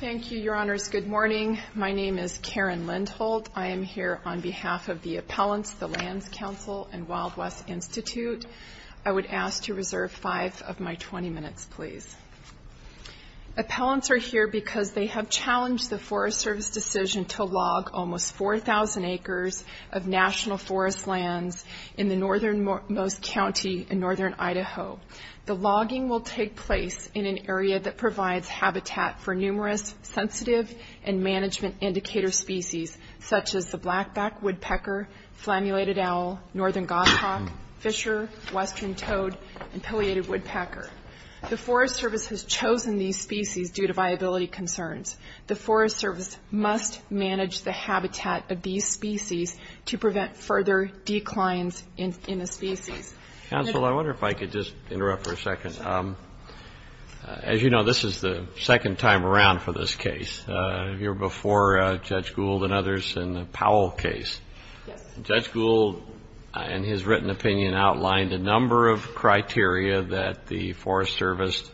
Thank you, your honors. Good morning. My name is Karen Lindholt. I am here on behalf of the appellants, the Lands Council, and Wild West Institute. I would ask to reserve five of my 20 minutes, please. Appellants are here because they have challenged the Forest Service decision to log almost 4,000 acres of national forest lands in the northernmost county in northern Idaho. The logging will take place in an area that provides habitat for numerous sensitive and management indicator species, such as the blackback woodpecker, flammulated owl, northern goshawk, fisher, western toad, and pileated woodpecker. The Forest Service has chosen these species due to viability concerns. The Forest Service must manage the habitat of these species to prevent further declines in a species. Counsel, I wonder if I could just interrupt for a second. As you know, this is the second time around for this case. You're before Judge Gould and others in the Powell case. Judge Gould, in his written opinion, outlined a number of criteria that the Forest Service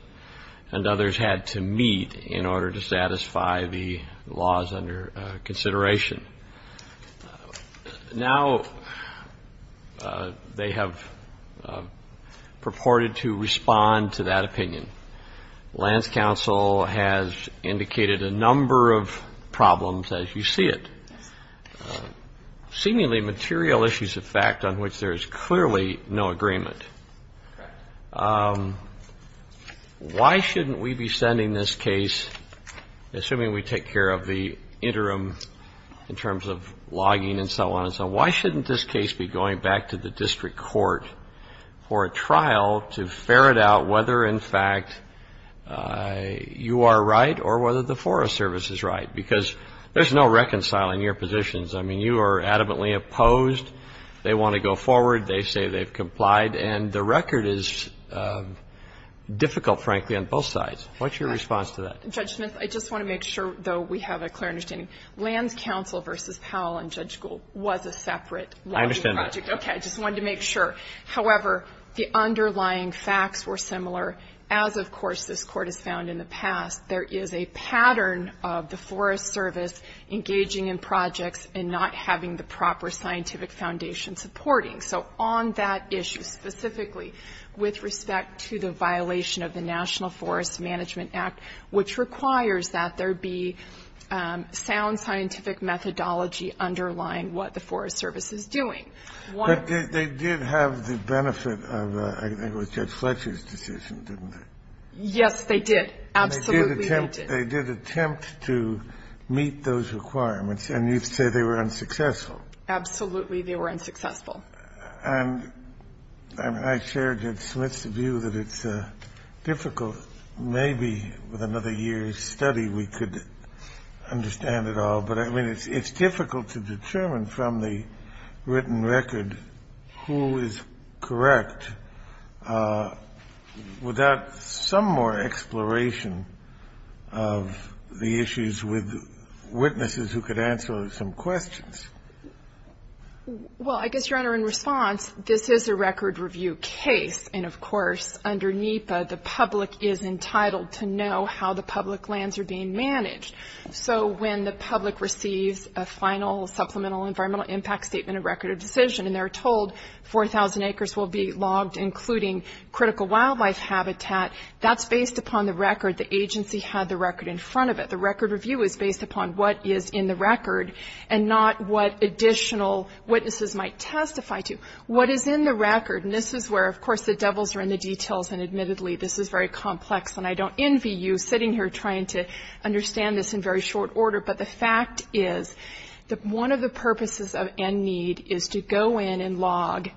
and others had to meet in order to satisfy the laws under consideration. Now, they have purported to respond to that opinion. Lands Council has indicated a number of problems as you see it. Seemingly material issues of fact on which there is clearly no agreement. Why shouldn't we be sending this case, assuming we take care of the interim in terms of logging and so on and so on, why shouldn't this case be going back to the district court for a trial to ferret out whether in fact you are right or whether the Forest Service is right? Because there's no reconciling your positions. I mean, you are adamantly opposed. They want to go forward. They say they've complied. And the record is difficult, frankly, on both sides. What's your response to that? Judge Smith, I just want to make sure, though, we have a clear understanding. Lands Council versus Powell and Judge Gould was a separate logging project. I understand that. Okay. I just wanted to make sure. However, the underlying facts were similar. As, of course, this Court has found in the past, there is a pattern of the Forest Service engaging in projects and not having the proper scientific foundation supporting. So on that issue specifically, with respect to the violation of the National Forest Management Act, which requires that there be sound scientific methodology underlying what the Forest Service is doing, one of the ones that we have is that the Forest Service is not engaging in projects. And so there is a pattern of the Forest Service engaging in projects. Absolutely, they were unsuccessful. And I share Judge Smith's view that it's difficult. Maybe with another year's study we could understand it all. But, I mean, it's difficult to determine from the written record who is correct without some more exploration of the issues with witnesses who could answer some questions. Well, I guess, Your Honor, in response, this is a record review case. And, of course, under NEPA, the public is entitled to know how the public lands are being managed. So when the public receives a final supplemental environmental impact statement, a record of decision, and they're told 4,000 acres will be logged, including critical wildlife habitat, that's based upon the record. The agency had the record in front of it. The record review is based upon what is in the record and not what additional witnesses might testify to. What is in the record? And this is where, of course, the devils are in the details. And, admittedly, this is very complex. And I don't envy you sitting here trying to understand this in very short order. But the fact is that one of the purposes of NNEED is to go in and log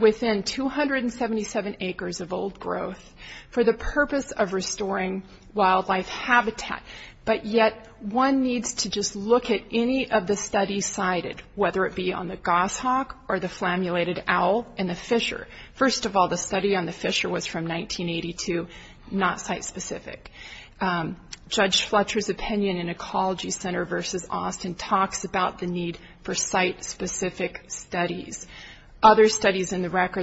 within 277 acres of old growth for the purpose of restoring wildlife habitat. But yet one needs to just look at any of the studies cited, whether it be on the goshawk or the flammulated owl and the fisher. First of all, the study on the fisher was from 1982, not site-specific. Judge Fletcher's opinion in Ecology Center v. Austin talks about the need for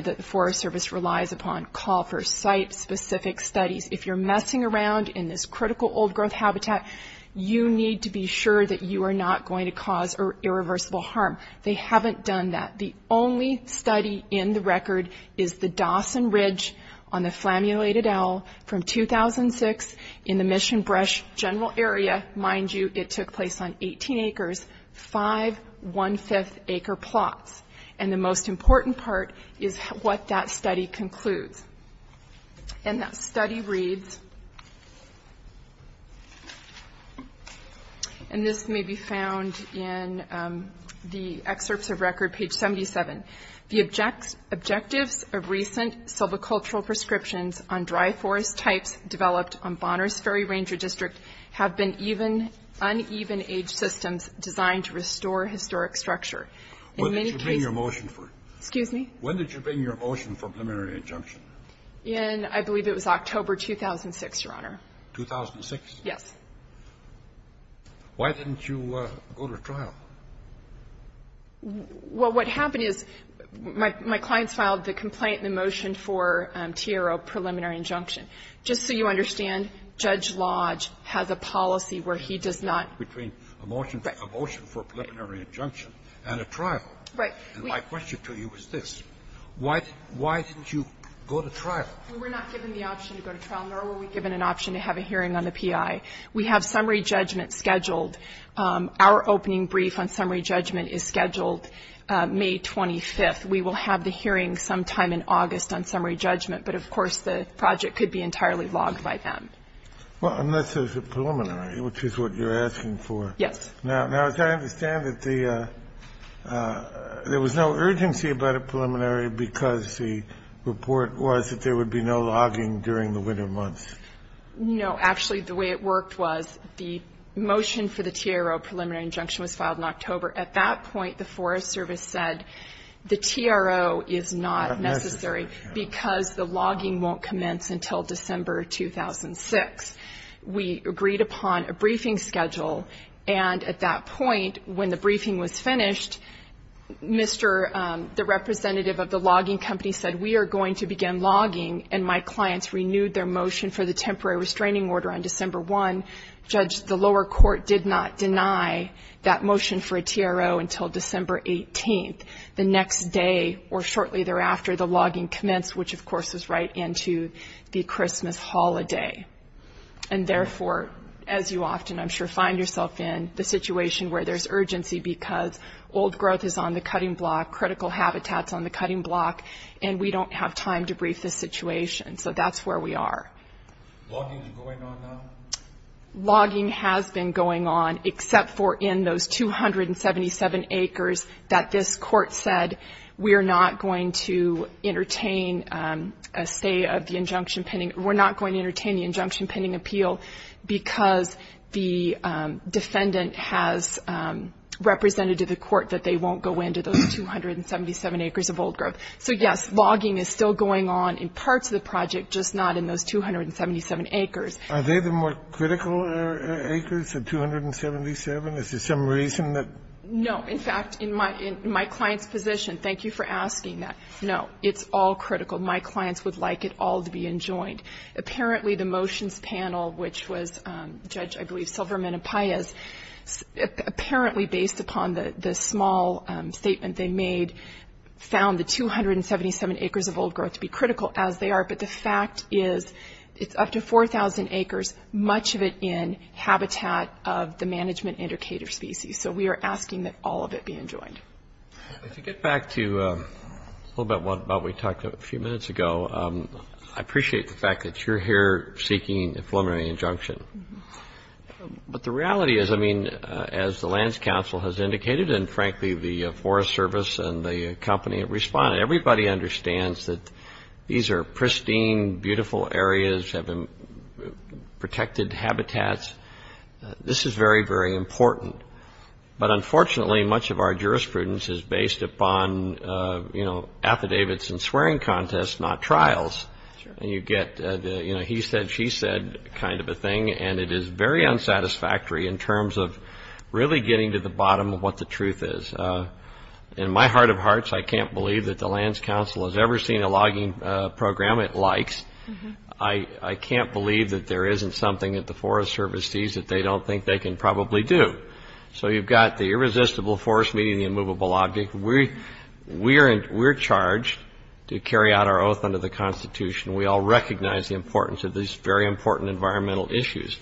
the Forest Service relies upon call for site-specific studies. If you're messing around in this critical old growth habitat, you need to be sure that you are not going to cause irreversible harm. They haven't done that. The only study in the record is the Dawson Ridge on the flammulated owl from 2006 in the Mission Brush General Area. Mind you, it took place on 18 acres, five one-fifth acre plots. And the most important part is what that study concludes. And that study reads, and this may be found in the excerpts of record, page 77, the objectives of recent silvicultural prescriptions on dry forest types developed on Bonner's Ferry Ranger District have been uneven age systems designed to restore historic structure. In many cases the study was not found in the record. I believe it was October 2006, Your Honor. 2006? Yes. Why didn't you go to trial? Well, what happened is my clients filed the complaint and the motion for TRO preliminary injunction. Just so you understand, Judge Lodge has a policy where he does not. Between a motion for preliminary injunction. Right. And my question to you is this. Why didn't you go to trial? We were not given the option to go to trial, nor were we given an option to have a hearing on the P.I. We have summary judgment scheduled. Our opening brief on summary judgment is scheduled May 25th. We will have the hearing sometime in August on summary judgment. But, of course, the project could be entirely logged by then. Well, unless there's a preliminary, which is what you're asking for. Yes. Now, as I understand it, there was no urgency about a preliminary because the report was that there would be no logging during the winter months. No. Actually, the way it worked was the motion for the TRO preliminary injunction was filed in October. At that point, the Forest Service said the TRO is not necessary because the logging won't commence until December 2006. We agreed upon a briefing schedule, and at that point, when the briefing was finished, the representative of the logging company said we are going to begin logging, and my clients renewed their motion for the temporary restraining order on December 1. Judge, the lower court did not deny that motion for a TRO until December 18th. The next day, or shortly thereafter, the logging commenced, which, of course, is right into the Christmas holiday. And therefore, as you often, I'm sure, find yourself in, the situation where there's urgency because old growth is on the cutting block, critical habitat is on the cutting block, and we don't have time to brief this situation. So that's where we are. Logging is going on now? Logging has been going on, except for in those 277 acres that this court said that we are not going to entertain a say of the injunction pending. We're not going to entertain the injunction pending appeal because the defendant has represented to the court that they won't go into those 277 acres of old growth. So, yes, logging is still going on in parts of the project, just not in those 277 acres. Are they the more critical acres, the 277? Is there some reason that? No. In fact, in my client's position, thank you for asking that. No, it's all critical. My clients would like it all to be enjoined. Apparently, the motions panel, which was Judge, I believe, Silverman and Paez, apparently based upon the small statement they made, found the 277 acres of old growth to be critical as they are, but the fact is it's up to 4,000 acres, much of it in habitat of the management indicator species. So we are asking that all of it be enjoined. If you get back to a little bit about what we talked a few minutes ago, I appreciate the fact that you're here seeking a preliminary injunction. But the reality is, I mean, as the Lands Council has indicated and, frankly, the Forest Service and the company have responded, everybody understands that these are pristine, beautiful areas, protected habitats. This is very, very important. But unfortunately, much of our jurisprudence is based upon, you know, affidavits and swearing contests, not trials. And you get the, you know, he said, she said kind of a thing, and it is very unsatisfactory in terms of really getting to the bottom of what the truth is. In my heart of hearts, I can't believe that the Lands Council has ever seen a logging program it likes. I can't believe that there isn't something that the Forest Service sees that they don't think they can probably do. So you've got the irresistible force meeting the immovable object. We're charged to carry out our oath under the Constitution. We all recognize the importance of these very important environmental issues.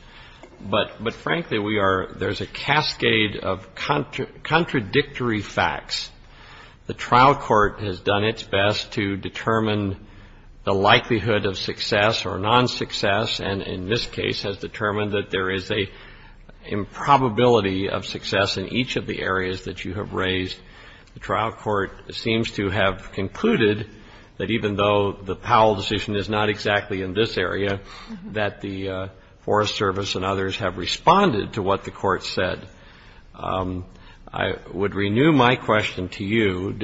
But, frankly, we are, there's a cascade of contradictory facts. The trial court has done its best to determine the likelihood of success or non-success, and in this case has determined that there is a probability of success in each of the areas that you have raised. The trial court seems to have concluded that even though the Powell decision is not exactly in this area, that the Forest Service and others have responded to what the court said. I would renew my question to you.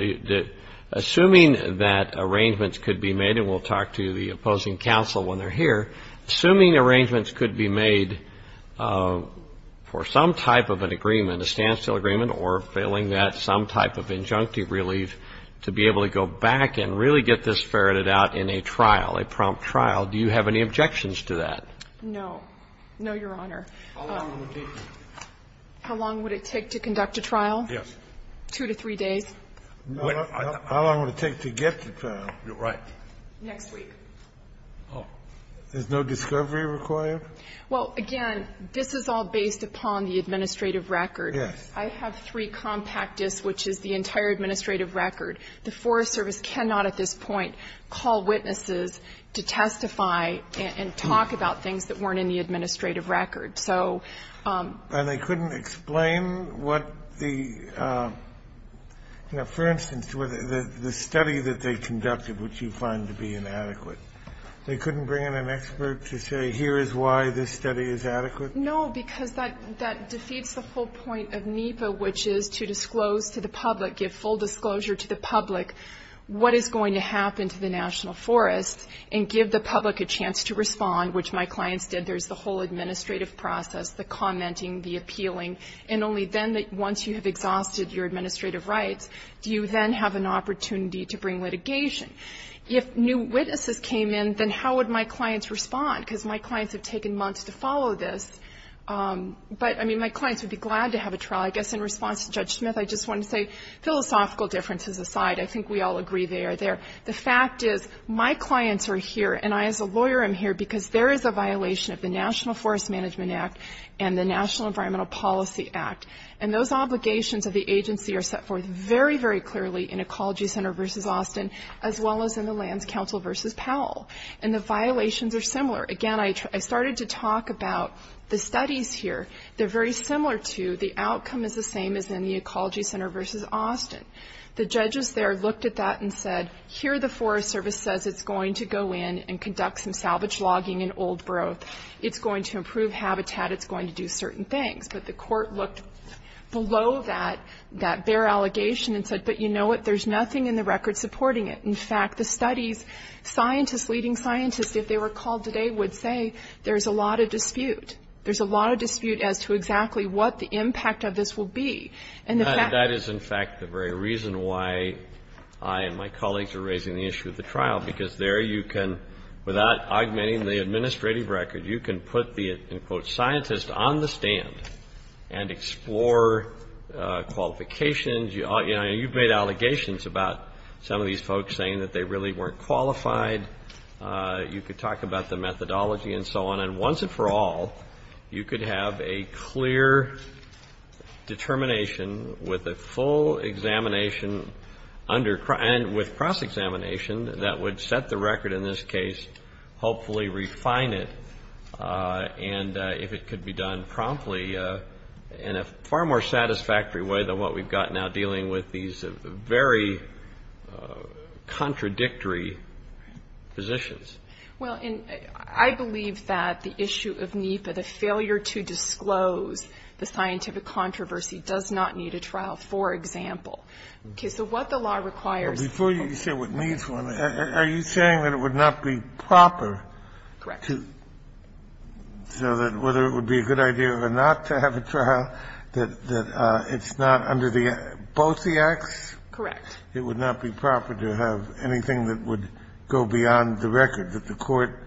Assuming that arrangements could be made, and we'll talk to the opposing counsel when they're here, assuming arrangements could be made for some type of an agreement, a standstill agreement, or failing that, some type of injunctive relief to be able to go back and really get this ferreted out in a trial, a prompt trial, do you have any objections to that? No. No, Your Honor. How long would it take? How long would it take to conduct a trial? Yes. Two to three days. How long would it take to get to trial? Right. Next week. Oh. Is no discovery required? Well, again, this is all based upon the administrative record. Yes. I have three compact discs, which is the entire administrative record. The Forest Service cannot at this point call witnesses to testify and talk about things that weren't in the administrative record. So they couldn't explain what the, you know, for instance, the study that they conducted, which you find to be inadequate. They couldn't bring in an expert to say here is why this study is adequate? No, because that defeats the whole point of NEPA, which is to disclose to the public, give full disclosure to the public what is going to happen to the national forests, and give the public a chance to respond, which my clients did. There's the whole administrative process, the commenting, the appealing. And only then, once you have exhausted your administrative rights, do you then have an opportunity to bring litigation. If new witnesses came in, then how would my clients respond? Because my clients have taken months to follow this. But, I mean, my clients would be glad to have a trial. I guess in response to Judge Smith, I just want to say, philosophical differences aside, I think we all agree they are there. The fact is my clients are here, and I as a lawyer am here, because there is a violation of the National Forest Management Act and the National Environmental Policy Act. And those obligations of the agency are set forth very, very clearly in Ecology Center v. Austin, as well as in the Lands Council v. Powell. And the violations are similar. Again, I started to talk about the studies here. They're very similar to the outcome is the same as in the Ecology Center v. Austin. The judges there looked at that and said, here the Forest Service says it's going to go in and conduct some salvage logging and old growth. It's going to improve habitat. It's going to do certain things. But the court looked below that, that bare allegation, and said, but you know what? There's nothing in the record supporting it. In fact, the studies, scientists, leading scientists, if they were called today, would say there's a lot of dispute. There's a lot of dispute as to exactly what the impact of this will be. And the fact that That is, in fact, the very reason why I and my colleagues are raising the issue of the trial, because there you can, without augmenting the administrative record, you can put the, in quote, scientist on the stand and explore qualifications. You know, you've made allegations about some of these folks saying that they really weren't qualified. You could talk about the methodology and so on. And then once and for all, you could have a clear determination with a full examination and with cross-examination that would set the record in this case, hopefully refine it, and if it could be done promptly in a far more satisfactory way than what we've got now, dealing with these very contradictory positions. Well, and I believe that the issue of NEPA, the failure to disclose the scientific controversy does not need a trial, for example. Okay. So what the law requires is that people Before you say what needs one, are you saying that it would not be proper to Correct. So that whether it would be a good idea or not to have a trial, that it's not under both the acts? Correct. It would not be proper to have anything that would go beyond the record, that the court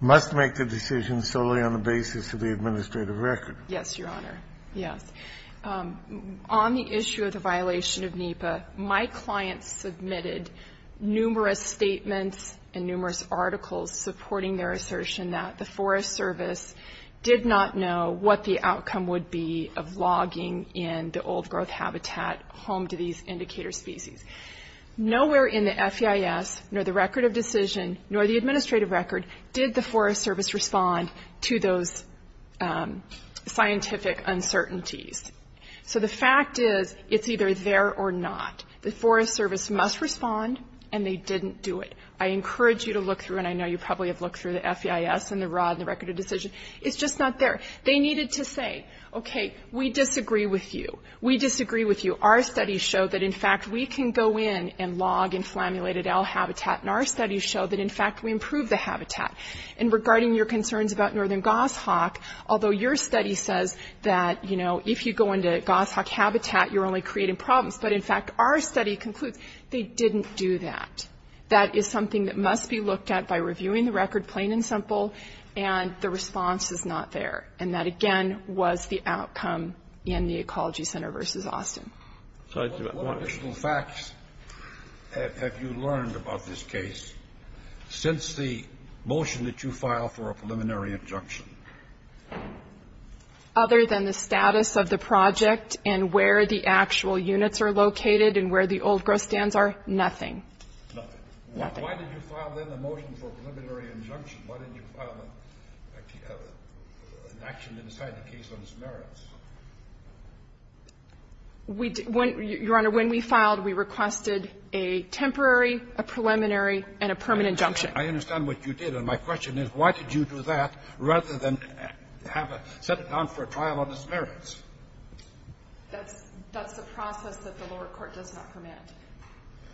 must make the decision solely on the basis of the administrative record? Yes, Your Honor. Yes. On the issue of the violation of NEPA, my clients submitted numerous statements and numerous articles supporting their assertion that the Forest Service did not know what the outcome would be of logging in the old growth habitat home to these indicator species. Nowhere in the FEIS, nor the record of decision, nor the administrative record, did the Forest Service respond to those scientific uncertainties. So the fact is, it's either there or not. The Forest Service must respond, and they didn't do it. I encourage you to look through, and I know you probably have looked through the FEIS and the rod and the record of decision. It's just not there. They needed to say, okay, we disagree with you. We disagree with you. Our studies show that, in fact, we can go in and log in flammulated owl habitat, and our studies show that, in fact, we improve the habitat. And regarding your concerns about northern goshawk, although your study says that, you know, if you go into goshawk habitat, you're only creating problems, but, in fact, our study concludes they didn't do that. That is something that must be looked at by reviewing the record plain and simple, and the response is not there. And that, again, was the outcome in the Ecology Center v. Austin. What additional facts have you learned about this case since the motion that you filed for a preliminary injunction? Other than the status of the project and where the actual units are located and where the old growth stands are, nothing. Nothing. Nothing. Why did you file, then, a motion for a preliminary injunction? Why didn't you file an action to decide the case on dismerance? We didn't. Your Honor, when we filed, we requested a temporary, a preliminary, and a permanent injunction. I understand what you did. And my question is, why did you do that rather than set it down for a trial on dismerance? That's the process that the lower court does not permit.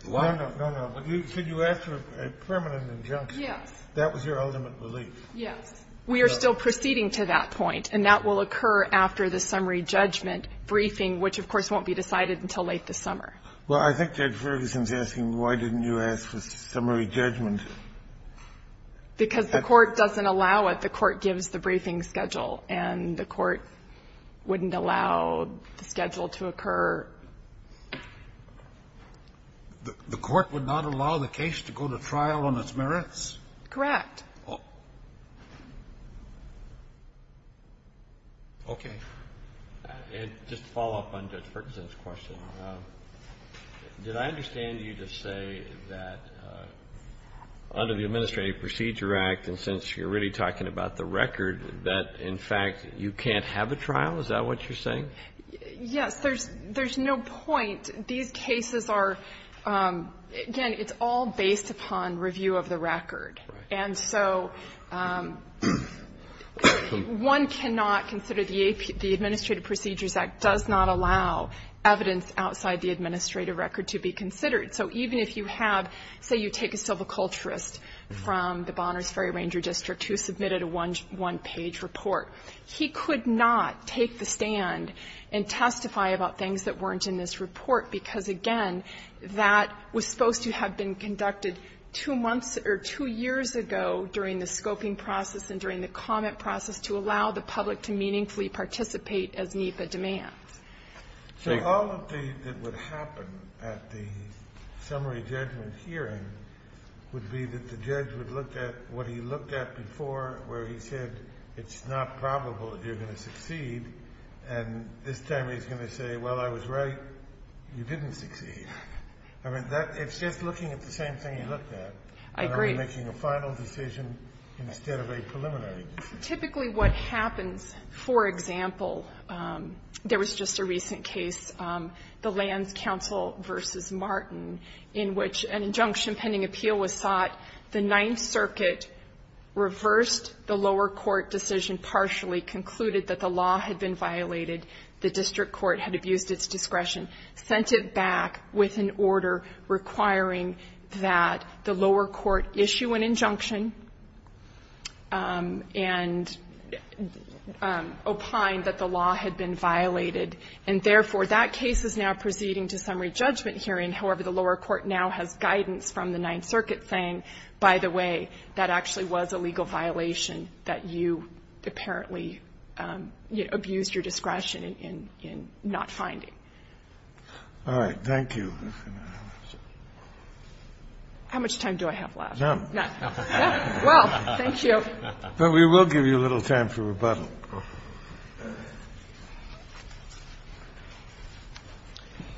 Why? No, no. You said you asked for a permanent injunction. Yes. That was your ultimate relief. Yes. We are still proceeding to that point, and that will occur after the summary judgment briefing, which, of course, won't be decided until late this summer. Well, I think Judge Ferguson is asking, why didn't you ask for summary judgment? Because the court doesn't allow it. to occur. The court would not allow the case to go to trial on dismerance? Correct. Okay. And just to follow up on Judge Ferguson's question, did I understand you to say that under the Administrative Procedure Act, and since you're really talking about the record, that, in fact, you can't have a trial? Is that what you're saying? Yes. There's no point. These cases are, again, it's all based upon review of the record. And so one cannot consider the Administrative Procedures Act does not allow evidence outside the administrative record to be considered. So even if you have, say, you take a civil culturist from the Bonner's Ferry Ranger District who submitted a one-page report, he could not take the stand and testify about things that weren't in this report, because, again, that was supposed to have been conducted two months or two years ago during the scoping process and during the comment process to allow the public to meaningfully participate as NEPA demands. So all of the things that would happen at the summary judgment hearing would be that the judge would look at what he looked at before, where he said it's not probable that you're going to succeed, and this time he's going to say, well, I was right, you didn't succeed. I mean, it's just looking at the same thing you looked at. I agree. You're making a final decision instead of a preliminary decision. Typically what happens, for example, there was just a recent case, the Lands Council v. Martin, in which an injunction pending appeal was sought. The Ninth Circuit reversed the lower court decision partially, concluded that the law had been violated. The district court had abused its discretion, sent it back with an order requiring that the lower court issue an injunction and opine that the law had been violated. And therefore, that case is now proceeding to summary judgment hearing, however, the lower court now has guidance from the Ninth Circuit saying, by the way, that actually was a legal violation that you apparently, you know, abused your discretion in not finding. Kennedy. All right. Thank you. How much time do I have left? None. None. Well, thank you. But we will give you a little time for rebuttal.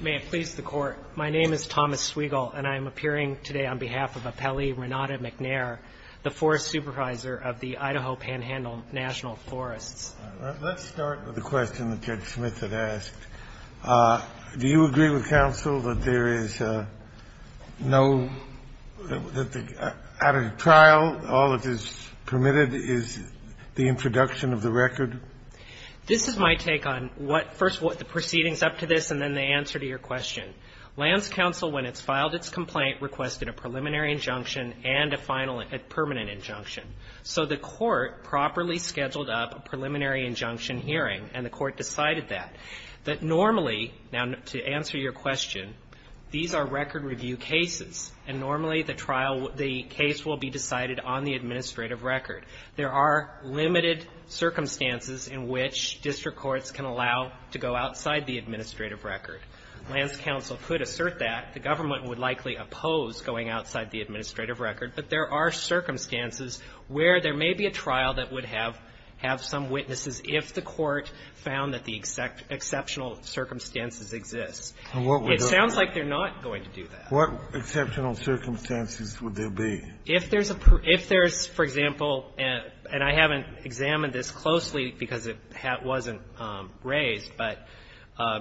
May it please the Court. My name is Thomas Swiegel, and I am appearing today on behalf of Apelli Renata McNair, the Forest Supervisor of the Idaho Panhandle National Forests. Let's start with the question that Judge Smith had asked. Do you agree with counsel that there is no, that out of trial, all that is permitted is the introduction of the record? This is my take on what the proceedings up to this and then the answer to your question. Lands Council, when it's filed its complaint, requested a preliminary injunction and a final, a permanent injunction. So the Court properly scheduled up a preliminary injunction hearing, and the Court decided that. That normally, now to answer your question, these are record review cases, and normally the trial, the case will be decided on the administrative record. There are limited circumstances in which district courts can allow to go outside the administrative record. Lands Council could assert that. The government would likely oppose going outside the administrative record. But there are circumstances where there may be a trial that would have, have some witnesses if the Court found that the exceptional circumstances exist. It sounds like they're not going to do that. What exceptional circumstances would there be? If there's a, if there's, for example, and I haven't examined this closely because it wasn't raised, but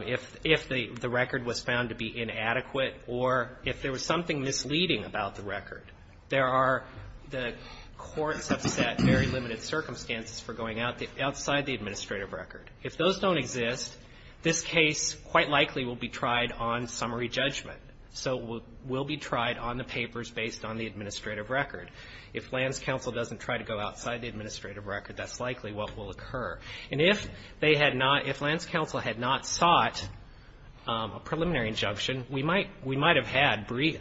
if, if the record was found to be inadequate or if there was something misleading about the record, there are, the courts have set very limited circumstances for going outside the administrative record. If those don't exist, this case quite likely will be tried on summary judgment. So it will be tried on the papers based on the administrative record. If Lands Council doesn't try to go outside the administrative record, that's likely what will occur. And if they had not, if Lands Council had not sought a preliminary injunction, we might, we might have had brief,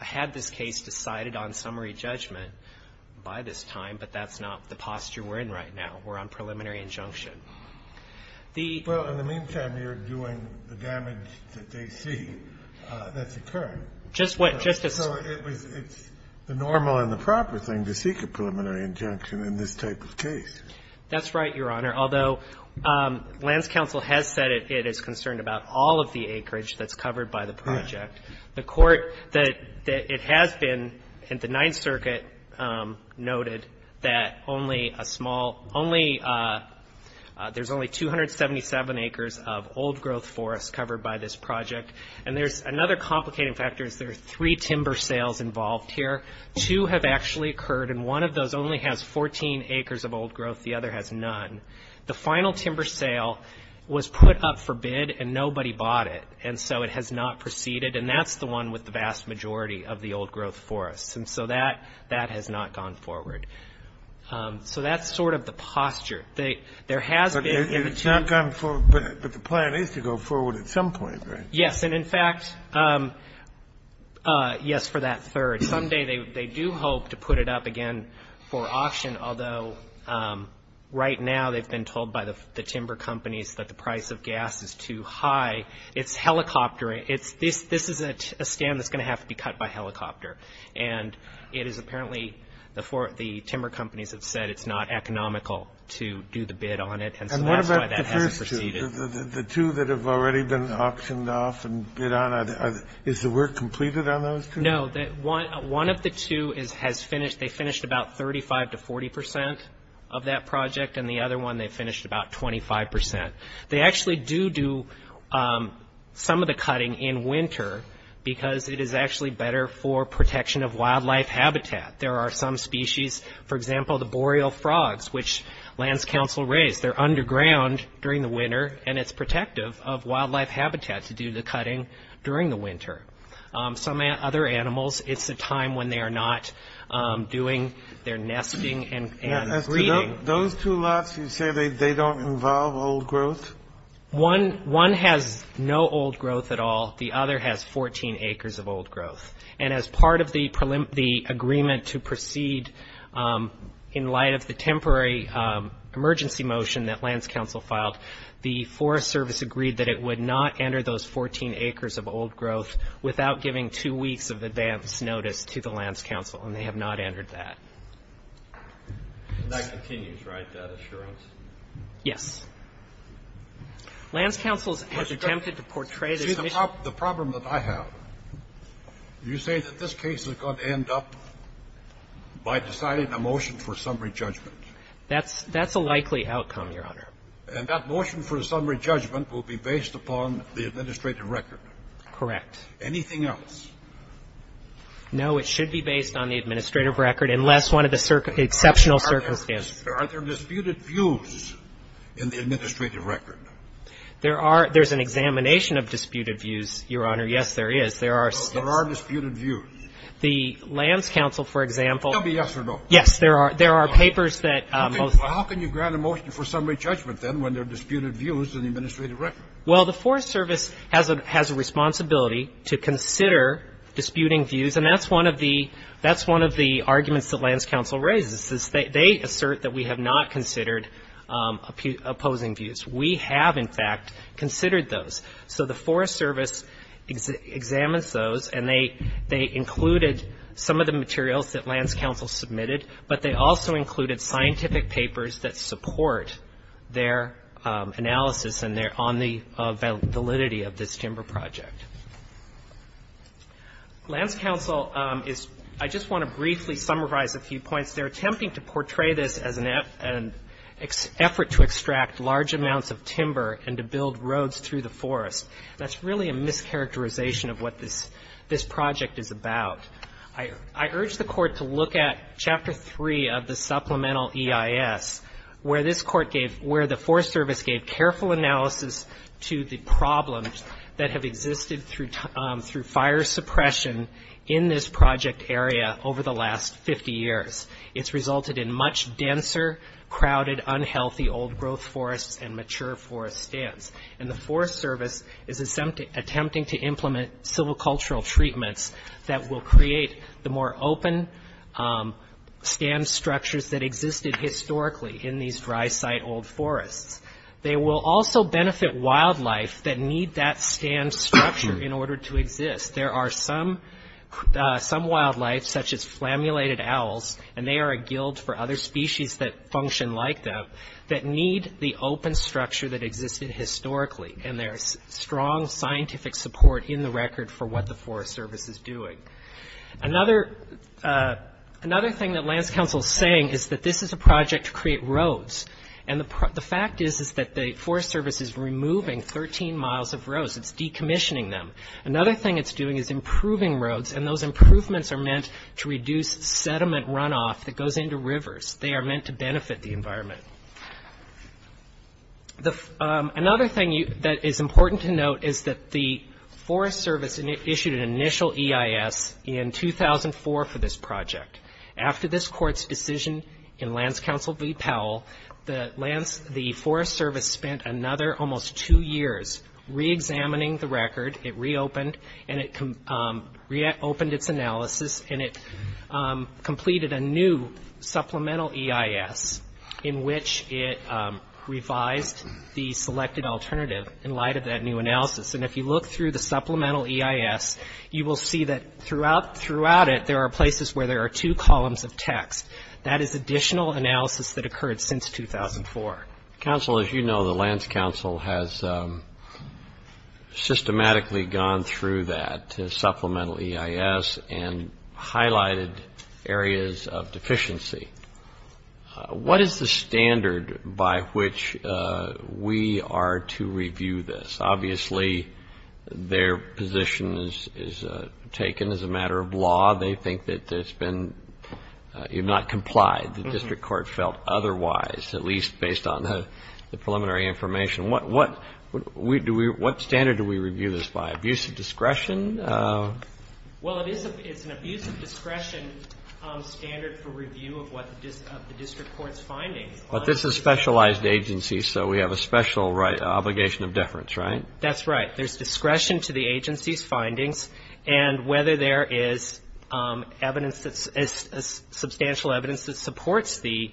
had this case decided on summary judgment by this time, but that's not the posture we're in right now. We're on preliminary injunction. The ---- Well, in the meantime, you're doing the damage that they see that's occurring. Just what, Justice ---- So it was, it's the normal and the proper thing to seek a preliminary injunction in this type of case. That's right, Your Honor, although Lands Council has said it is concerned about all of the acreage that's covered by the project. The Court that it has been, and the Ninth Circuit noted that only a small, only a, there's only 277 acres of old growth forest covered by this project. And there's another complicating factor is there are three timber sales involved here. Two have actually occurred, and one of those only has 14 acres of old growth. The other has none. The final timber sale was put up for bid, and nobody bought it. And so it has not proceeded, and that's the one with the vast majority of the old growth forests. And so that, that has not gone forward. So that's sort of the posture. There has been ---- But it's not gone forward, but the plan is to go forward at some point, right? Yes, and in fact, yes, for that third. Someday they do hope to put it up again for auction, although right now they've been told by the timber companies that the price of gas is too high. It's helicopter, this is a stand that's going to have to be cut by helicopter. And it is apparently the timber companies have said it's not economical to do the bid on it, and so that's why that hasn't proceeded. And what about the first two, the two that have already been auctioned off and bid on? Is the work completed on those two? No, one of the two has finished. They finished about 35 to 40 percent of that project, and the other one they finished about 25 percent. They actually do do some of the cutting in winter because it is actually better for protection of wildlife habitat. There are some species, for example, the boreal frogs, which lands council raised. They're underground during the winter, and it's protective of wildlife habitat to do the cutting during the winter. Some other animals, it's a time when they are not doing their nesting and breeding. Those two lots, you say they don't involve old growth? One has no old growth at all. The other has 14 acres of old growth. And as part of the agreement to proceed in light of the temporary emergency motion that lands council filed, the Forest Service agreed that it would not enter those 14 acres of old growth without giving two weeks of advance notice to the lands council, and they have not entered that. And that continues, right, that assurance? Yes. Lands council has attempted to portray this issue. The problem that I have, you say that this case is going to end up by deciding a motion for summary judgment? That's a likely outcome, Your Honor. And that motion for a summary judgment will be based upon the administrative record? Correct. Anything else? No. It should be based on the administrative record unless one of the exceptional circumstances. Are there disputed views in the administrative record? There are. There's an examination of disputed views, Your Honor. Yes, there is. There are. There are disputed views. The lands council, for example. It'll be yes or no. Yes, there are. There are papers that. Okay. Well, how can you grant a motion for summary judgment then when there are disputed views in the administrative record? Well, the Forest Service has a responsibility to consider disputing views, and that's one of the arguments that lands council raises. They assert that we have not considered opposing views. We have, in fact, considered those. So the Forest Service examines those, and they included some of the materials that lands council submitted, but they also included scientific papers that support their analysis on the validity of this timber project. Lands council is. I just want to briefly summarize a few points. They're attempting to portray this as an effort to extract large amounts of timber and to build roads through the forest. That's really a mischaracterization of what this project is about. I urge the court to look at Chapter 3 of the supplemental EIS, where the Forest Service gave careful analysis to the problems that have resulted in much denser, crowded, unhealthy old growth forests and mature forest stands. And the Forest Service is attempting to implement civil cultural treatments that will create the more open stand structures that existed historically in these dry site old forests. They will also benefit wildlife that need that stand structure in order to exist. There are some wildlife, such as flammulated owls, and they are a guild for other species that function like them, that need the open structure that existed historically. And there is strong scientific support in the record for what the Forest Service is doing. Another thing that lands council is saying is that this is a project to create roads. And the fact is that the Forest Service is removing 13 miles of roads. It's decommissioning them. Another thing it's doing is improving roads, and those improvements are meant to reduce sediment runoff that goes into rivers. They are meant to benefit the environment. Another thing that is important to note is that the Forest Service issued an initial EIS in 2004 for this project. After this court's decision in lands council v. Powell, the Forest Service spent another almost two years reexamining the record. It reopened, and it reopened its analysis, and it completed a new supplemental EIS in which it revised the selected alternative in light of that new analysis. And if you look through the supplemental EIS, you will see that throughout it there are places where there are two columns of text. That is additional analysis that occurred since 2004. Counsel, as you know, the lands council has systematically gone through that supplemental EIS and highlighted areas of deficiency. What is the standard by which we are to review this? Obviously their position is taken as a matter of law. They think that it's been not complied. The district court felt otherwise, at least based on the preliminary information. What standard do we review this by? Abuse of discretion? Well, it's an abuse of discretion standard for review of the district court's findings. But this is a specialized agency, so we have a special obligation of deference, right? That's right. There's discretion to the agency's findings, and whether there is evidence, substantial evidence that supports the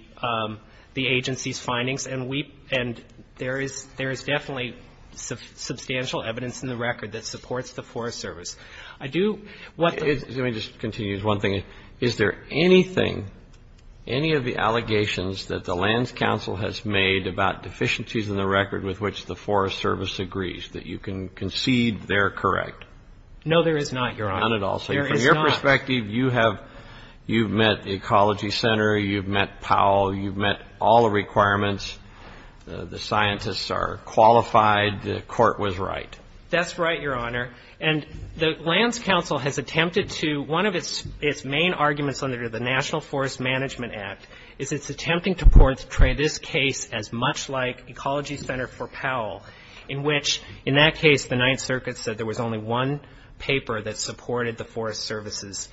agency's findings. And there is definitely substantial evidence in the record that supports the Forest Service. Let me just continue. One thing. Is there anything, any of the allegations that the lands council has made about deficiencies in the record with which the Forest Service agrees, that you can concede they're correct? No, there is not, Your Honor. None at all. There is not. So from your perspective, you have, you've met the Ecology Center, you've met Powell, you've met all the requirements. The scientists are qualified. The court was right. That's right, Your Honor. And the lands council has attempted to, one of its main arguments under the National Forest Management Act, is it's attempting to portray this case as much like Ecology Center for Powell, in which, in that case, the Ninth Circuit said there was only one paper that supported the Forest Service's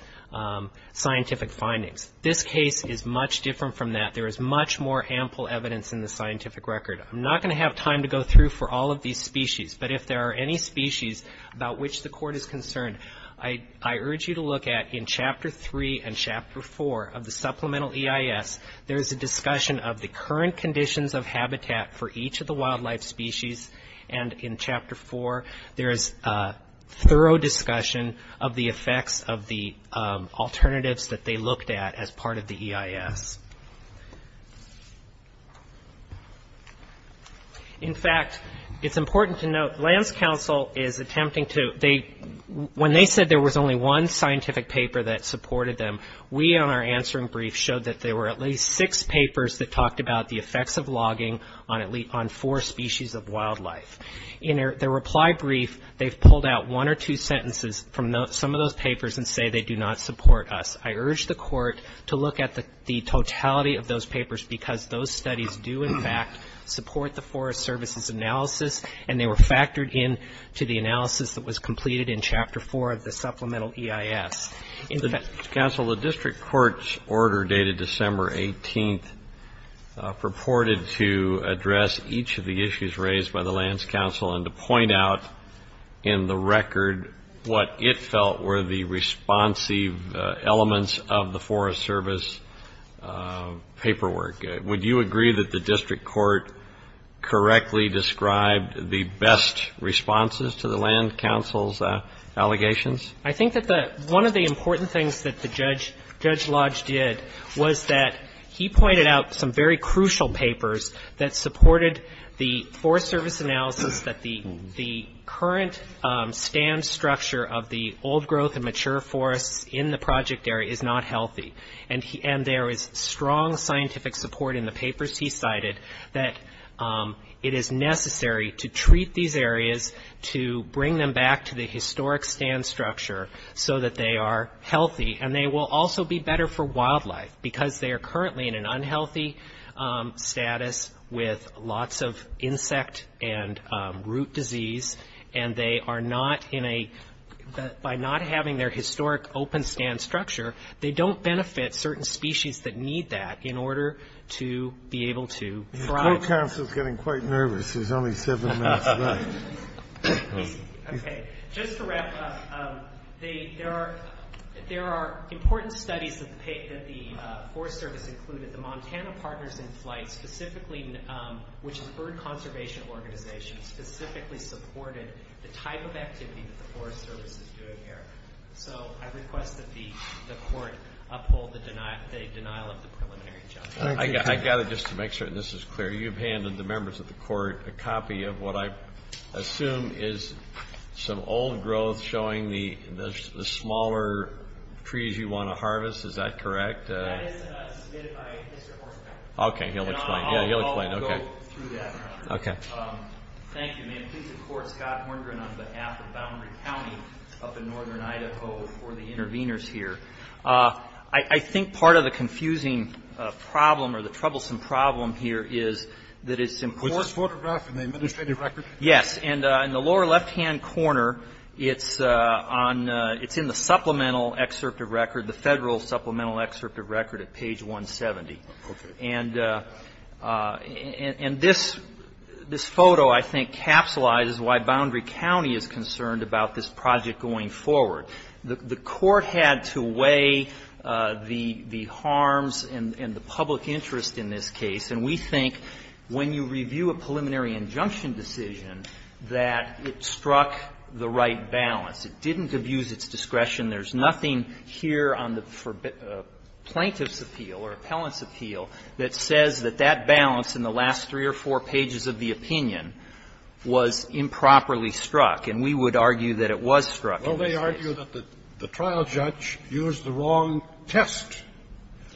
scientific findings. This case is much different from that. There is much more ample evidence in the scientific record. I'm not going to have time to go through for all of these species, but if there are any species about which the court is concerned, I urge you to look at, in Chapter 3 and Chapter 4 of the Supplemental EIS, there is a discussion of the current conditions of habitat for each of the species, and in Chapter 4, there is a thorough discussion of the effects of the alternatives that they looked at as part of the EIS. In fact, it's important to note, lands council is attempting to, when they said there was only one scientific paper that supported them, we, on our answering brief, showed that there were at least six papers that talked about the effects of wildlife. In their reply brief, they've pulled out one or two sentences from some of those papers and say they do not support us. I urge the court to look at the totality of those papers, because those studies do, in fact, support the Forest Service's analysis, and they were factored in to the analysis that was completed in Chapter 4 of the Supplemental EIS. Counsel, the district court's order dated December 18th purported to address each of the issues raised by the lands council, and to point out in the record what it felt were the responsive elements of the Forest Service paperwork. Would you agree that the district court correctly described the best responses to the land council's allegations? I think that one of the important things that Judge Lodge did was that he said in the Forest Service analysis that the current stand structure of the old growth and mature forests in the project area is not healthy, and there is strong scientific support in the papers he cited that it is necessary to treat these areas to bring them back to the historic stand structure so that they are healthy, and they will also be better for wildlife because they are currently in an insect and root disease, and they are not in a, by not having their historic open stand structure, they don't benefit certain species that need that in order to be able to thrive. The court counsel is getting quite nervous. There's only seven minutes left. Okay. Just to wrap up, there are important studies that the Forest Service included. The Montana Partners in Flight specifically, which is a bird conservation organization, specifically supported the type of activity that the Forest Service is doing here. So I request that the court uphold the denial of the preliminary judgment. I've got to just make sure this is clear. You've handed the members of the court a copy of what I assume is some old growth showing the smaller trees you want to harvest. Is that correct? That is submitted by Mr. Hornegren. Okay. He'll explain. I'll go through that. Okay. Thank you. May it please the court, Scott Hornegren on behalf of Boundary County up in Northern Idaho for the interveners here. I think part of the confusing problem or the troublesome problem here is that it's important. Was this photographed in the administrative record? Yes. In the lower left-hand corner, it's in the supplemental excerpt of record, the federal supplemental excerpt of record at page 170. Okay. And this photo, I think, capsulizes why Boundary County is concerned about this project going forward. The court had to weigh the harms and the public interest in this case, and we think when you review a preliminary injunction decision, that it struck the right balance. It didn't abuse its discretion. There's nothing here on the plaintiff's appeal or appellant's appeal that says that that balance in the last three or four pages of the opinion was improperly struck. And we would argue that it was struck in this case. Well, they argue that the trial judge used the wrong test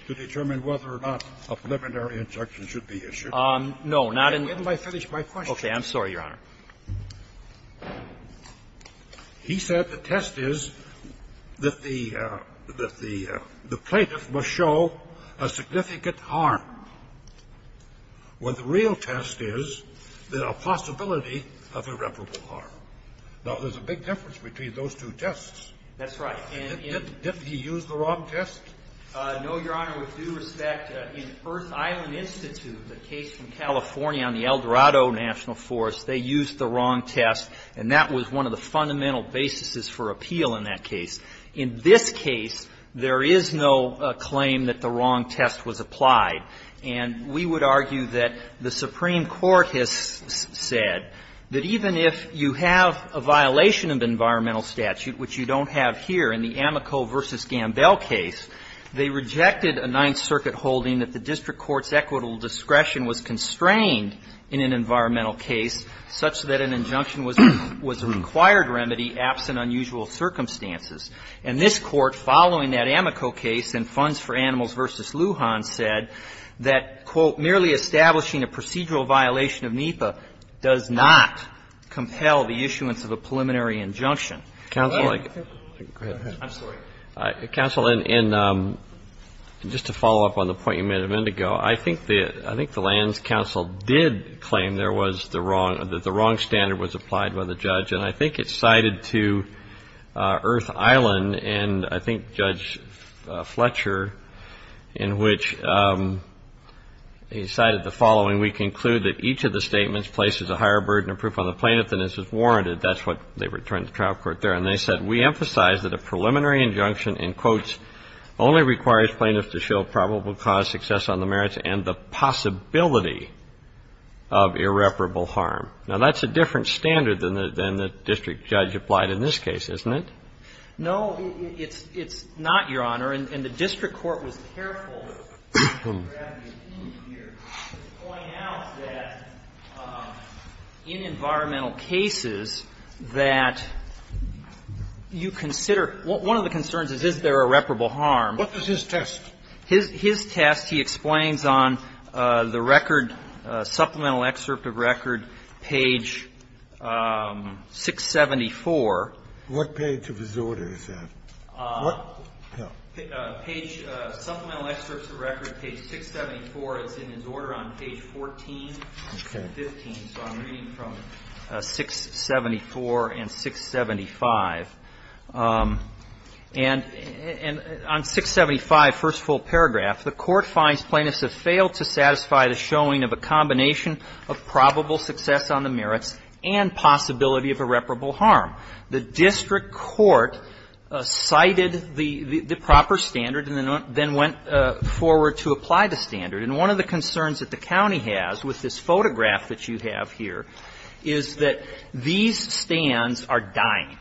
to determine whether or not a preliminary injunction should be issued. No, not in this case. Let me finish my question. I'm sorry, Your Honor. He said the test is that the plaintiff must show a significant harm. When the real test is the possibility of irreparable harm. Now, there's a big difference between those two tests. That's right. Didn't he use the wrong test? No, Your Honor. With due respect, in Earth Island Institute, the case from California on the El Dorado National Forest, they used the wrong test, and that was one of the fundamental basis for appeal in that case. In this case, there is no claim that the wrong test was applied. And we would argue that the Supreme Court has said that even if you have a violation of environmental statute, which you don't have here in the Amico v. Gambell case, they rejected a Ninth Circuit holding that the district court's equitable discretion was constrained in an environmental case such that an injunction was a required remedy absent unusual circumstances. And this Court, following that Amico case and funds for Animals v. Lujan said that, quote, merely establishing a procedural violation of NEPA does not compel the issuance of a preliminary injunction. Counsel. Go ahead. I'm sorry. Counsel, and just to follow up on the point you made of Indigo, I think the language of the land's counsel did claim there was the wrong standard was applied by the judge. And I think it's cited to Earth Island, and I think Judge Fletcher, in which he cited the following, we conclude that each of the statements places a higher burden of proof on the plaintiff than is warranted. That's what they returned to trial court there. And they said, we emphasize that a preliminary injunction, in quotes, only requires plaintiffs to show probable cause, success on the merits, and the possibility of irreparable harm. Now, that's a different standard than the district judge applied in this case, isn't it? No, it's not, Your Honor. And the district court was careful to point out that in environmental cases that you consider one of the concerns is, is there irreparable harm? What was his test? His test, he explains on the record, supplemental excerpt of record, page 674. What page of his order is that? What? Page, supplemental excerpt of record, page 674. It's in his order on page 14 and 15. So I'm reading from 674 and 675. And on 675, first full paragraph, the court finds plaintiffs have failed to satisfy the showing of a combination of probable success on the merits and possibility of irreparable harm. The district court cited the proper standard and then went forward to apply the standard. And one of the concerns that the county has with this photograph that you have here is that these stands are dying.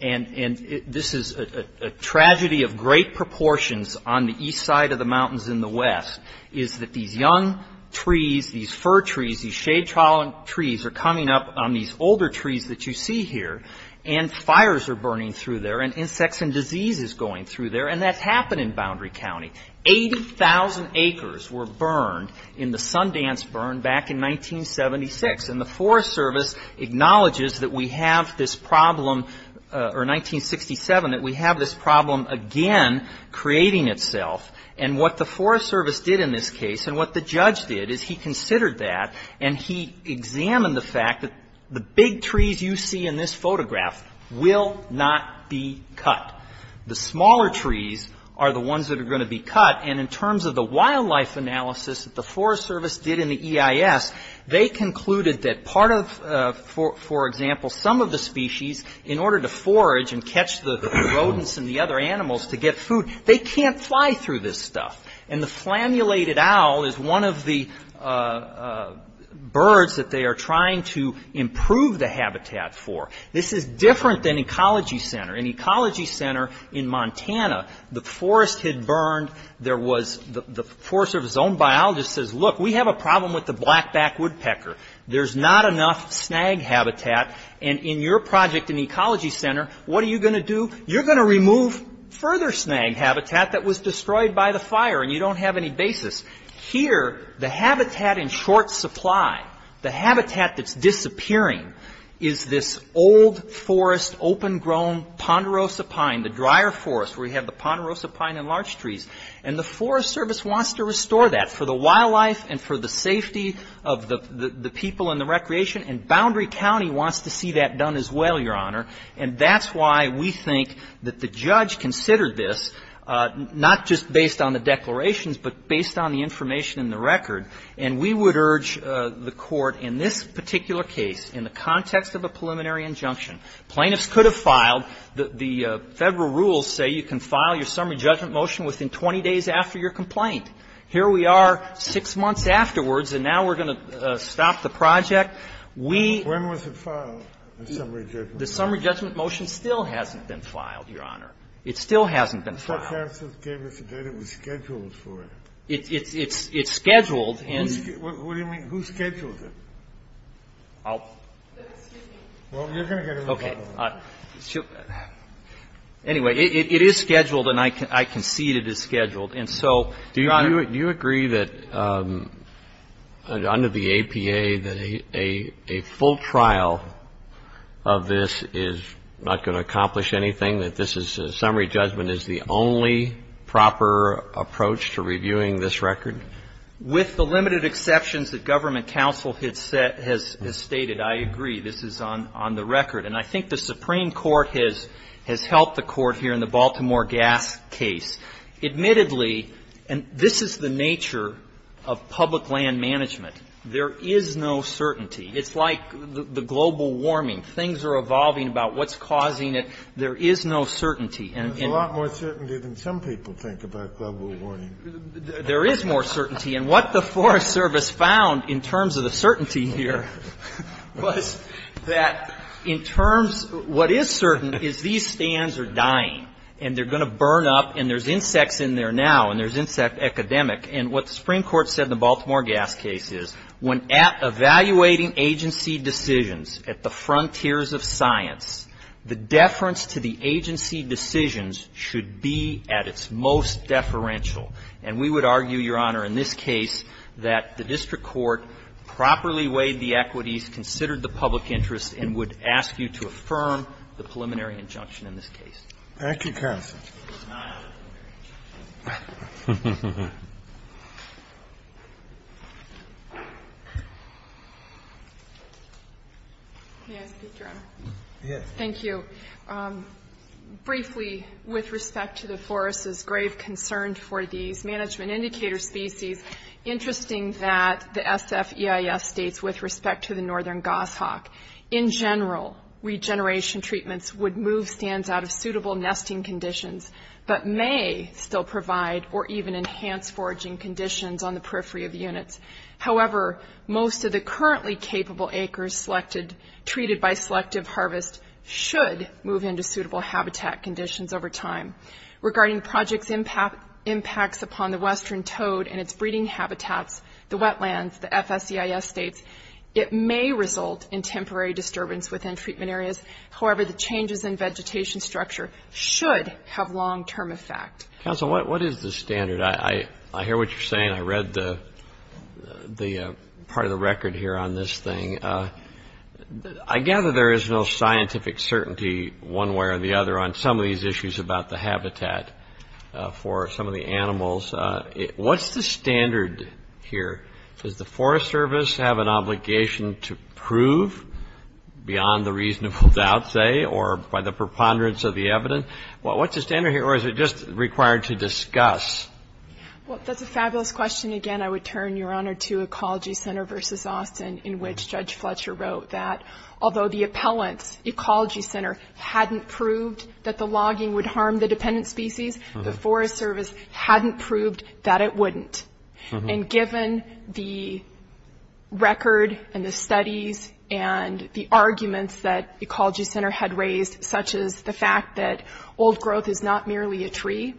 And this is a tragedy of great proportions on the east side of the mountains in the west, is that these young trees, these fir trees, these shade-trawling trees are coming up on these older trees that you see here, and fires are burning through there, and insects and disease is going through there. And that's happened in Boundary County. 80,000 acres were burned in the Sundance burn back in 1976. And the Forest Service acknowledges that we have this problem, or 1967, that we have this problem again creating itself. And what the Forest Service did in this case and what the judge did is he considered that and he examined the fact that the big trees you see in this photograph will not be cut. The smaller trees are the ones that are going to be cut. And in terms of the wildlife analysis that the Forest Service did in the EIS, they concluded that part of, for example, some of the species, in order to forage and catch the rodents and the other animals to get food, they can't fly through this stuff. And the flammulated owl is one of the birds that they are trying to improve the habitat for. This is different than Ecology Center. In Ecology Center in Montana, the forest had burned. The Forest Service's own biologist says, look, we have a problem with the blackback woodpecker. There's not enough snag habitat. And in your project in Ecology Center, what are you going to do? You're going to remove further snag habitat that was destroyed by the fire, and you don't have any basis. Here, the habitat in short supply, the habitat that's disappearing, is this old forest, open-grown ponderosa pine, the drier forest, where you have the ponderosa pine and large trees. And the Forest Service wants to restore that for the wildlife and for the safety of the people and the recreation, and Boundary County wants to see that done as well, Your Honor. And that's why we think that the judge considered this, not just based on the declarations, but based on the information in the record. And we would urge the Court, in this particular case, in the context of a preliminary injunction, plaintiffs could have filed. The Federal rules say you can file your summary judgment motion within 20 days after your complaint. Here we are six months afterwards, and now we're going to stop the project. We ---- When was it filed, the summary judgment motion? The summary judgment motion still hasn't been filed, Your Honor. It still hasn't been filed. But the counsel gave us a date. It was scheduled for it. It's scheduled and ---- What do you mean? Who scheduled it? I'll ---- Excuse me. Well, you're going to get in trouble. Okay. Anyway, it is scheduled, and I concede it is scheduled. And so, Your Honor ---- Do you agree that under the APA that a full trial of this is not going to accomplish anything, that this is ---- the summary judgment is the only proper approach to reviewing this record? With the limited exceptions that government counsel has stated, I agree. This is on the record. And I think the Supreme Court has helped the Court here in the Baltimore gas case. Admittedly, and this is the nature of public land management, there is no certainty. It's like the global warming. Things are evolving about what's causing it. There is no certainty. There's a lot more certainty than some people think about global warming. There is more certainty. And what the Forest Service found in terms of the certainty here was that in terms ---- what is certain is these stands are dying, and they're going to burn up, and there's insects in there now, and there's insect academic. And what the Supreme Court said in the Baltimore gas case is when evaluating agency decisions at the frontiers of science, the deference to the agency decisions should be at its most deferential. And we would argue, Your Honor, in this case that the district court properly weighed the equities, considered the public interest, and would ask you to affirm the preliminary injunction in this case. Thank you, counsel. May I speak, Your Honor? Yes. Thank you. Briefly, with respect to the forest's grave concern for these management indicator species, interesting that the SFEIS states with respect to the northern goshawk, in general, regeneration treatments would move stands out of suitable nesting conditions, but may still provide or even enhance foraging conditions on the periphery of the units. However, most of the currently capable acres treated by selective harvest should move into suitable habitat conditions over time. Regarding projects' impacts upon the western toad and its breeding habitats, the wetlands, the FSEIS states it may result in temporary disturbance within treatment areas. However, the changes in vegetation structure should have long-term effect. Counsel, what is the standard? I hear what you're saying. I read part of the record here on this thing. I gather there is no scientific certainty one way or the other on some of these issues about the habitat for some of the animals. What's the standard here? Does the Forest Service have an obligation to prove beyond the reasonable doubt, say, or by the preponderance of the evidence? What's the standard here, or is it just required to discuss? Well, that's a fabulous question. Again, I would turn, Your Honor, to Ecology Center v. Austin, in which Judge Fletcher wrote that, although the appellant's ecology center hadn't proved that the logging would harm the dependent species, the Forest Service hadn't proved that it wouldn't. And given the record and the studies and the arguments that Ecology Center had raised, such as the fact that old growth is not merely a tree,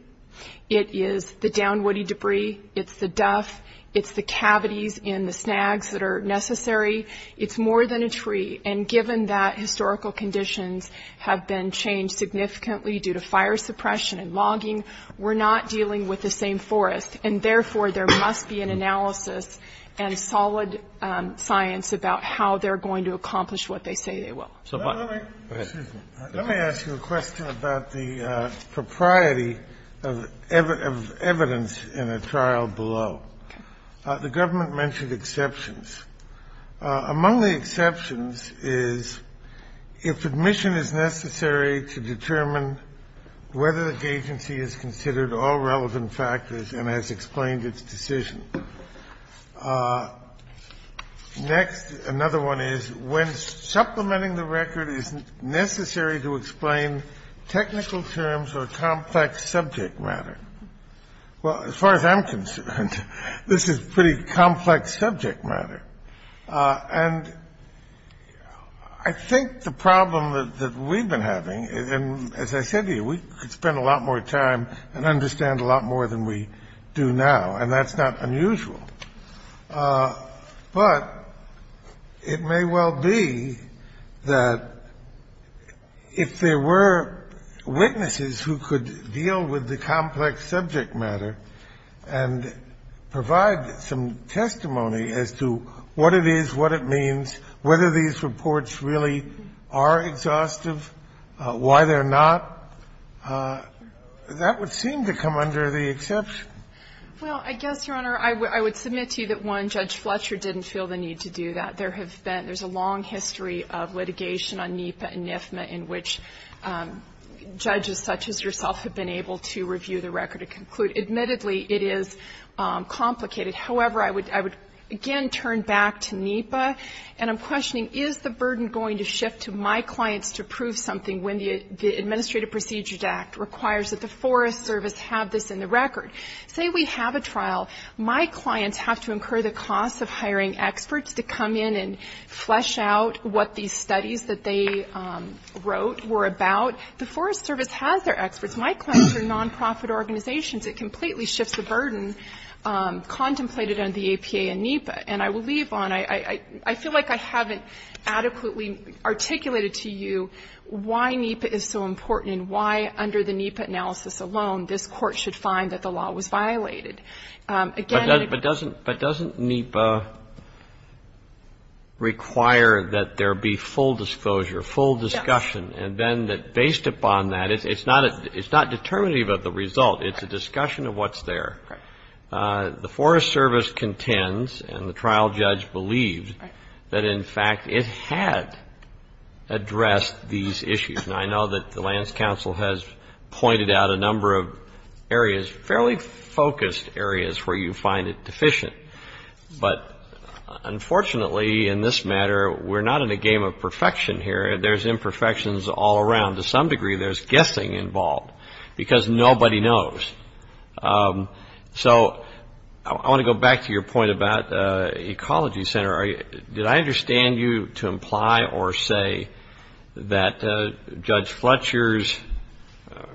it is the downwoody debris, it's the duff, it's the cavities in the snags that are necessary, it's more than a tree. And given that historical conditions have been changed significantly due to fire suppression and logging, we're not dealing with the same forest. And therefore, there must be an analysis and solid science about how they're going to accomplish what they say they will. Go ahead. Let me ask you a question about the propriety of evidence in a trial below. Okay. The government mentioned exceptions. Among the exceptions is if admission is necessary to determine whether the agency has considered all relevant factors and has explained its decision. Next, another one is when supplementing the record is necessary to explain technical terms or complex subject matter. Well, as far as I'm concerned, this is pretty complex subject matter. And I think the problem that we've been having, and as I said to you, we could spend a lot more time and understand a lot more than we do now, and that's not unusual. But it may well be that if there were witnesses who could deal with the complex subject matter and provide some testimony as to what it is, what it means, whether these reports really are exhaustive, why they're not, that would seem to come under the exception. Well, I guess, Your Honor, I would submit to you that, one, Judge Fletcher didn't feel the need to do that. There have been, there's a long history of litigation on NEPA and NIFMA in which judges such as yourself have been able to review the record to conclude. Admittedly, it is complicated. However, I would again turn back to NEPA, and I'm questioning, is the burden going to shift to my clients to prove something when the Administrative Procedures Act requires that the Forest Service have this in the record? Say we have a trial. My clients have to incur the cost of hiring experts to come in and flesh out what these studies that they wrote were about. The Forest Service has their experts. My clients are nonprofit organizations. It completely shifts the burden contemplated under the APA and NEPA. And I will leave on, I feel like I haven't adequately articulated to you why NEPA is so important and why, under the NEPA analysis alone, this Court should find that the law was violated. Again ---- But doesn't NEPA require that there be full disclosure, full discussion? Yes. And then based upon that, it's not determinative of the result. It's a discussion of what's there. Right. The Forest Service contends, and the trial judge believed, that in fact it had addressed these issues. And I know that the Lands Council has pointed out a number of areas, fairly focused areas, where you find it deficient. But unfortunately, in this matter, we're not in a game of perfection here. There's imperfections all around. To some degree, there's guessing involved because nobody knows. So I want to go back to your point about Ecology Center. Did I understand you to imply or say that Judge Fletcher's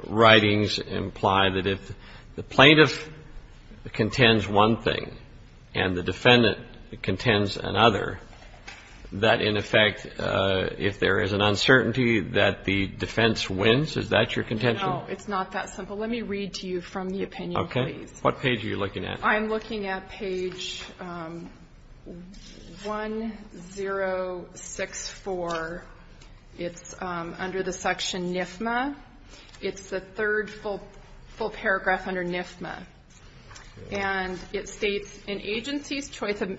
writings imply that if the plaintiff contends one thing and the defendant contends another, that in effect, if there is an uncertainty, that the defense wins? Is that your contention? No, it's not that simple. Let me read to you from the opinion, please. Okay. What page are you looking at? I'm looking at page 1064. It's under the section NIFMA. It's the third full paragraph under NIFMA. And it states, An agency's choice of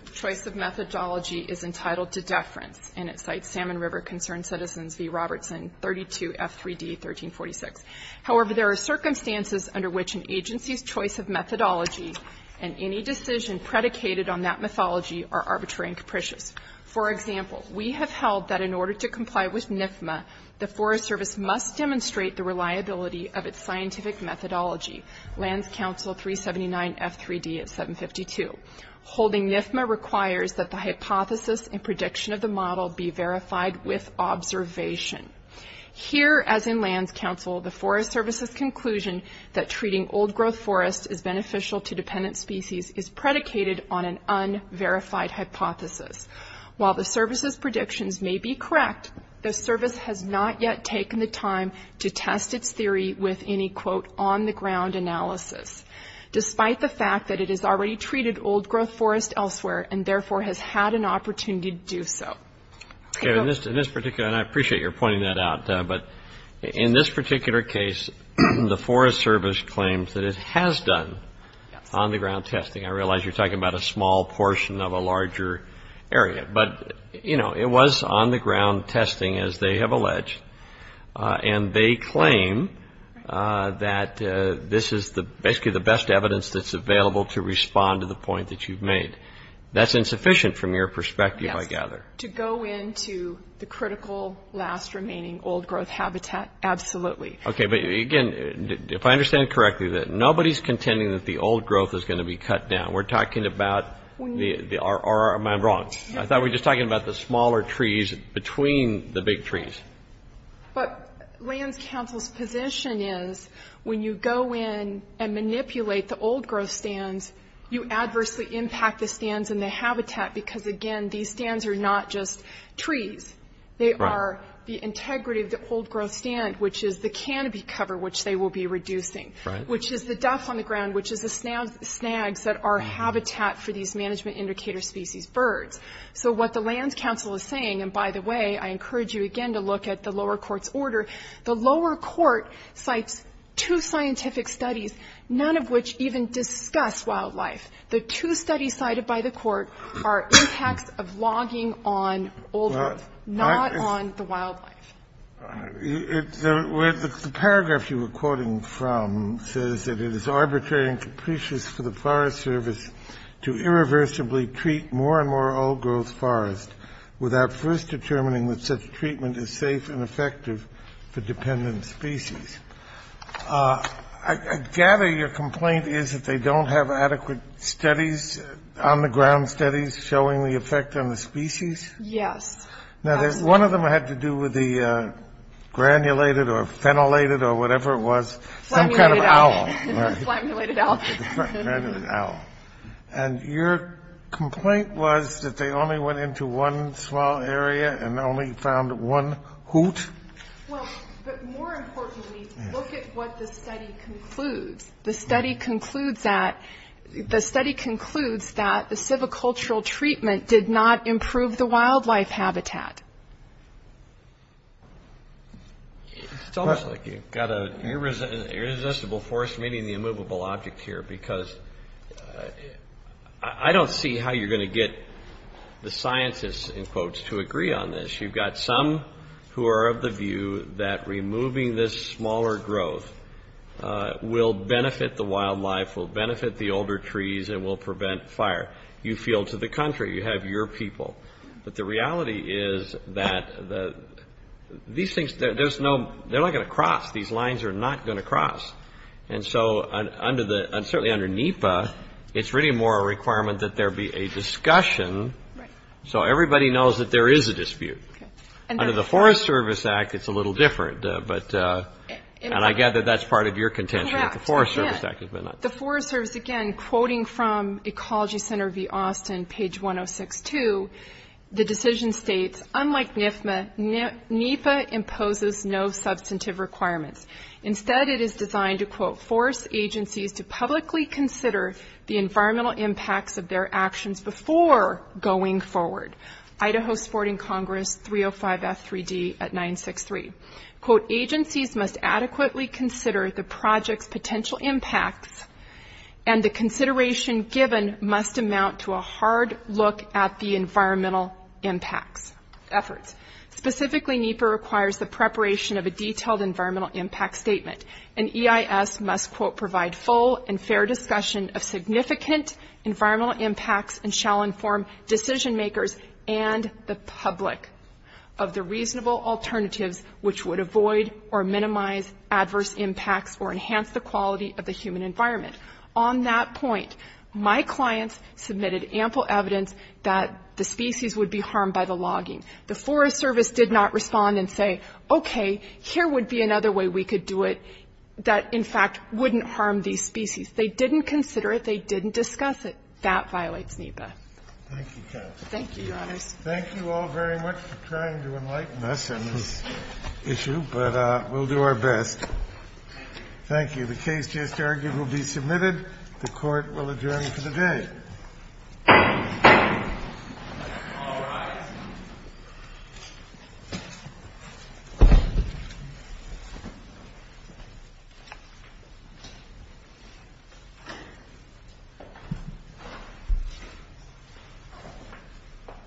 methodology is entitled to deference. And it cites Salmon River Concerned Citizens v. Robertson, 32 F3D 1346. However, there are circumstances under which an agency's choice of methodology and any decision predicated on that mythology are arbitrary and capricious. For example, we have held that in order to comply with NIFMA, the Forest Service must demonstrate the reliability of its scientific methodology, Lands Council 379 F3D 752. Holding NIFMA requires that the hypothesis and prediction of the model be verified with observation. Here, as in Lands Council, the Forest Service's conclusion that treating old-growth forest is beneficial to dependent species is predicated on an unverified hypothesis. While the Service's predictions may be correct, the Service has not yet taken the time to test its theory with any, quote, on-the-ground analysis, despite the fact that it has already treated old-growth forest elsewhere and therefore has had an opportunity to do so. In this particular, and I appreciate your pointing that out, but in this particular case, the Forest Service claims that it has done on-the-ground testing. I realize you're talking about a small portion of a larger area. But, you know, it was on-the-ground testing, as they have alleged, and they claim that this is basically the best evidence that's available to respond to the point that you've made. That's insufficient from your perspective, I gather. To go into the critical, last remaining old-growth habitat, absolutely. Okay, but again, if I understand correctly, nobody's contending that the old-growth is going to be cut down. We're talking about, or am I wrong? I thought we were just talking about the smaller trees between the big trees. But Lands Council's position is, when you go in and manipulate the old-growth stands, you adversely impact the stands and the habitat, because again, these stands are not just trees. They are the integrity of the old-growth stand, which is the canopy cover, which they will be reducing, which is the duff on the ground, which is the snags that are habitat for these management indicator species, birds. So what the Lands Council is saying, and by the way, I encourage you again to look at the lower court's order, the lower court cites two scientific studies, none of which even discuss wildlife. The two studies cited by the court are impacts of logging on old-growth, not on the wildlife. The paragraph you were quoting from says that it is arbitrary and capricious for the Forest Service to irreversibly treat more and more old-growth forest without first determining that such treatment is safe and effective for dependent species. I gather your complaint is that they don't have adequate studies, on-the-ground studies, showing the effect on the species? Yes. Now, one of them had to do with the granulated or phenolated or whatever it was. Flammulated owl. Some kind of owl. Flammulated owl. Flammulated owl. And your complaint was that they only went into one small area and only found one hoot? Well, but more importantly, look at what the study concludes. The study concludes that the civicultural treatment did not improve the wildlife habitat. It's almost like you've got an irresistible force meeting the immovable object here because I don't see how you're going to get the scientists, in quotes, to agree on this. You've got some who are of the view that removing this smaller growth will benefit the wildlife, will benefit the older trees, and will prevent fire. You feel to the contrary. You have your people. But the reality is that these things, they're not going to cross. These lines are not going to cross. And so, certainly under NEPA, it's really more a requirement that there be a discussion so everybody knows that there is a dispute. Under the Forest Service Act, it's a little different, and I gather that's part of your contention that the Forest Service Act has been not. The Forest Service, again, quoting from Ecology Center v. Austin, page 1062, the decision states, unlike NEPA, NEPA imposes no substantive requirements. Instead, it is designed to, quote, to publicly consider the environmental impacts of their actions before going forward. Idaho Sporting Congress, 305F3D at 963. Quote, Specifically, NEPA requires the preparation of a detailed environmental impact statement, and EIS must, quote, On that point, my clients submitted ample evidence that the species would be harmed by the logging. The Forest Service did not respond and say, okay, here would be another way we could do it that, in fact, wouldn't harm these species. They didn't consider it. They didn't discuss it. That violates NEPA. Thank you, counsel. Thank you, Your Honors. Thank you all very much for trying to enlighten us on this issue, but we'll do our best. Thank you. Thank you. The case just argued will be submitted. The Court will adjourn for the day. All rise.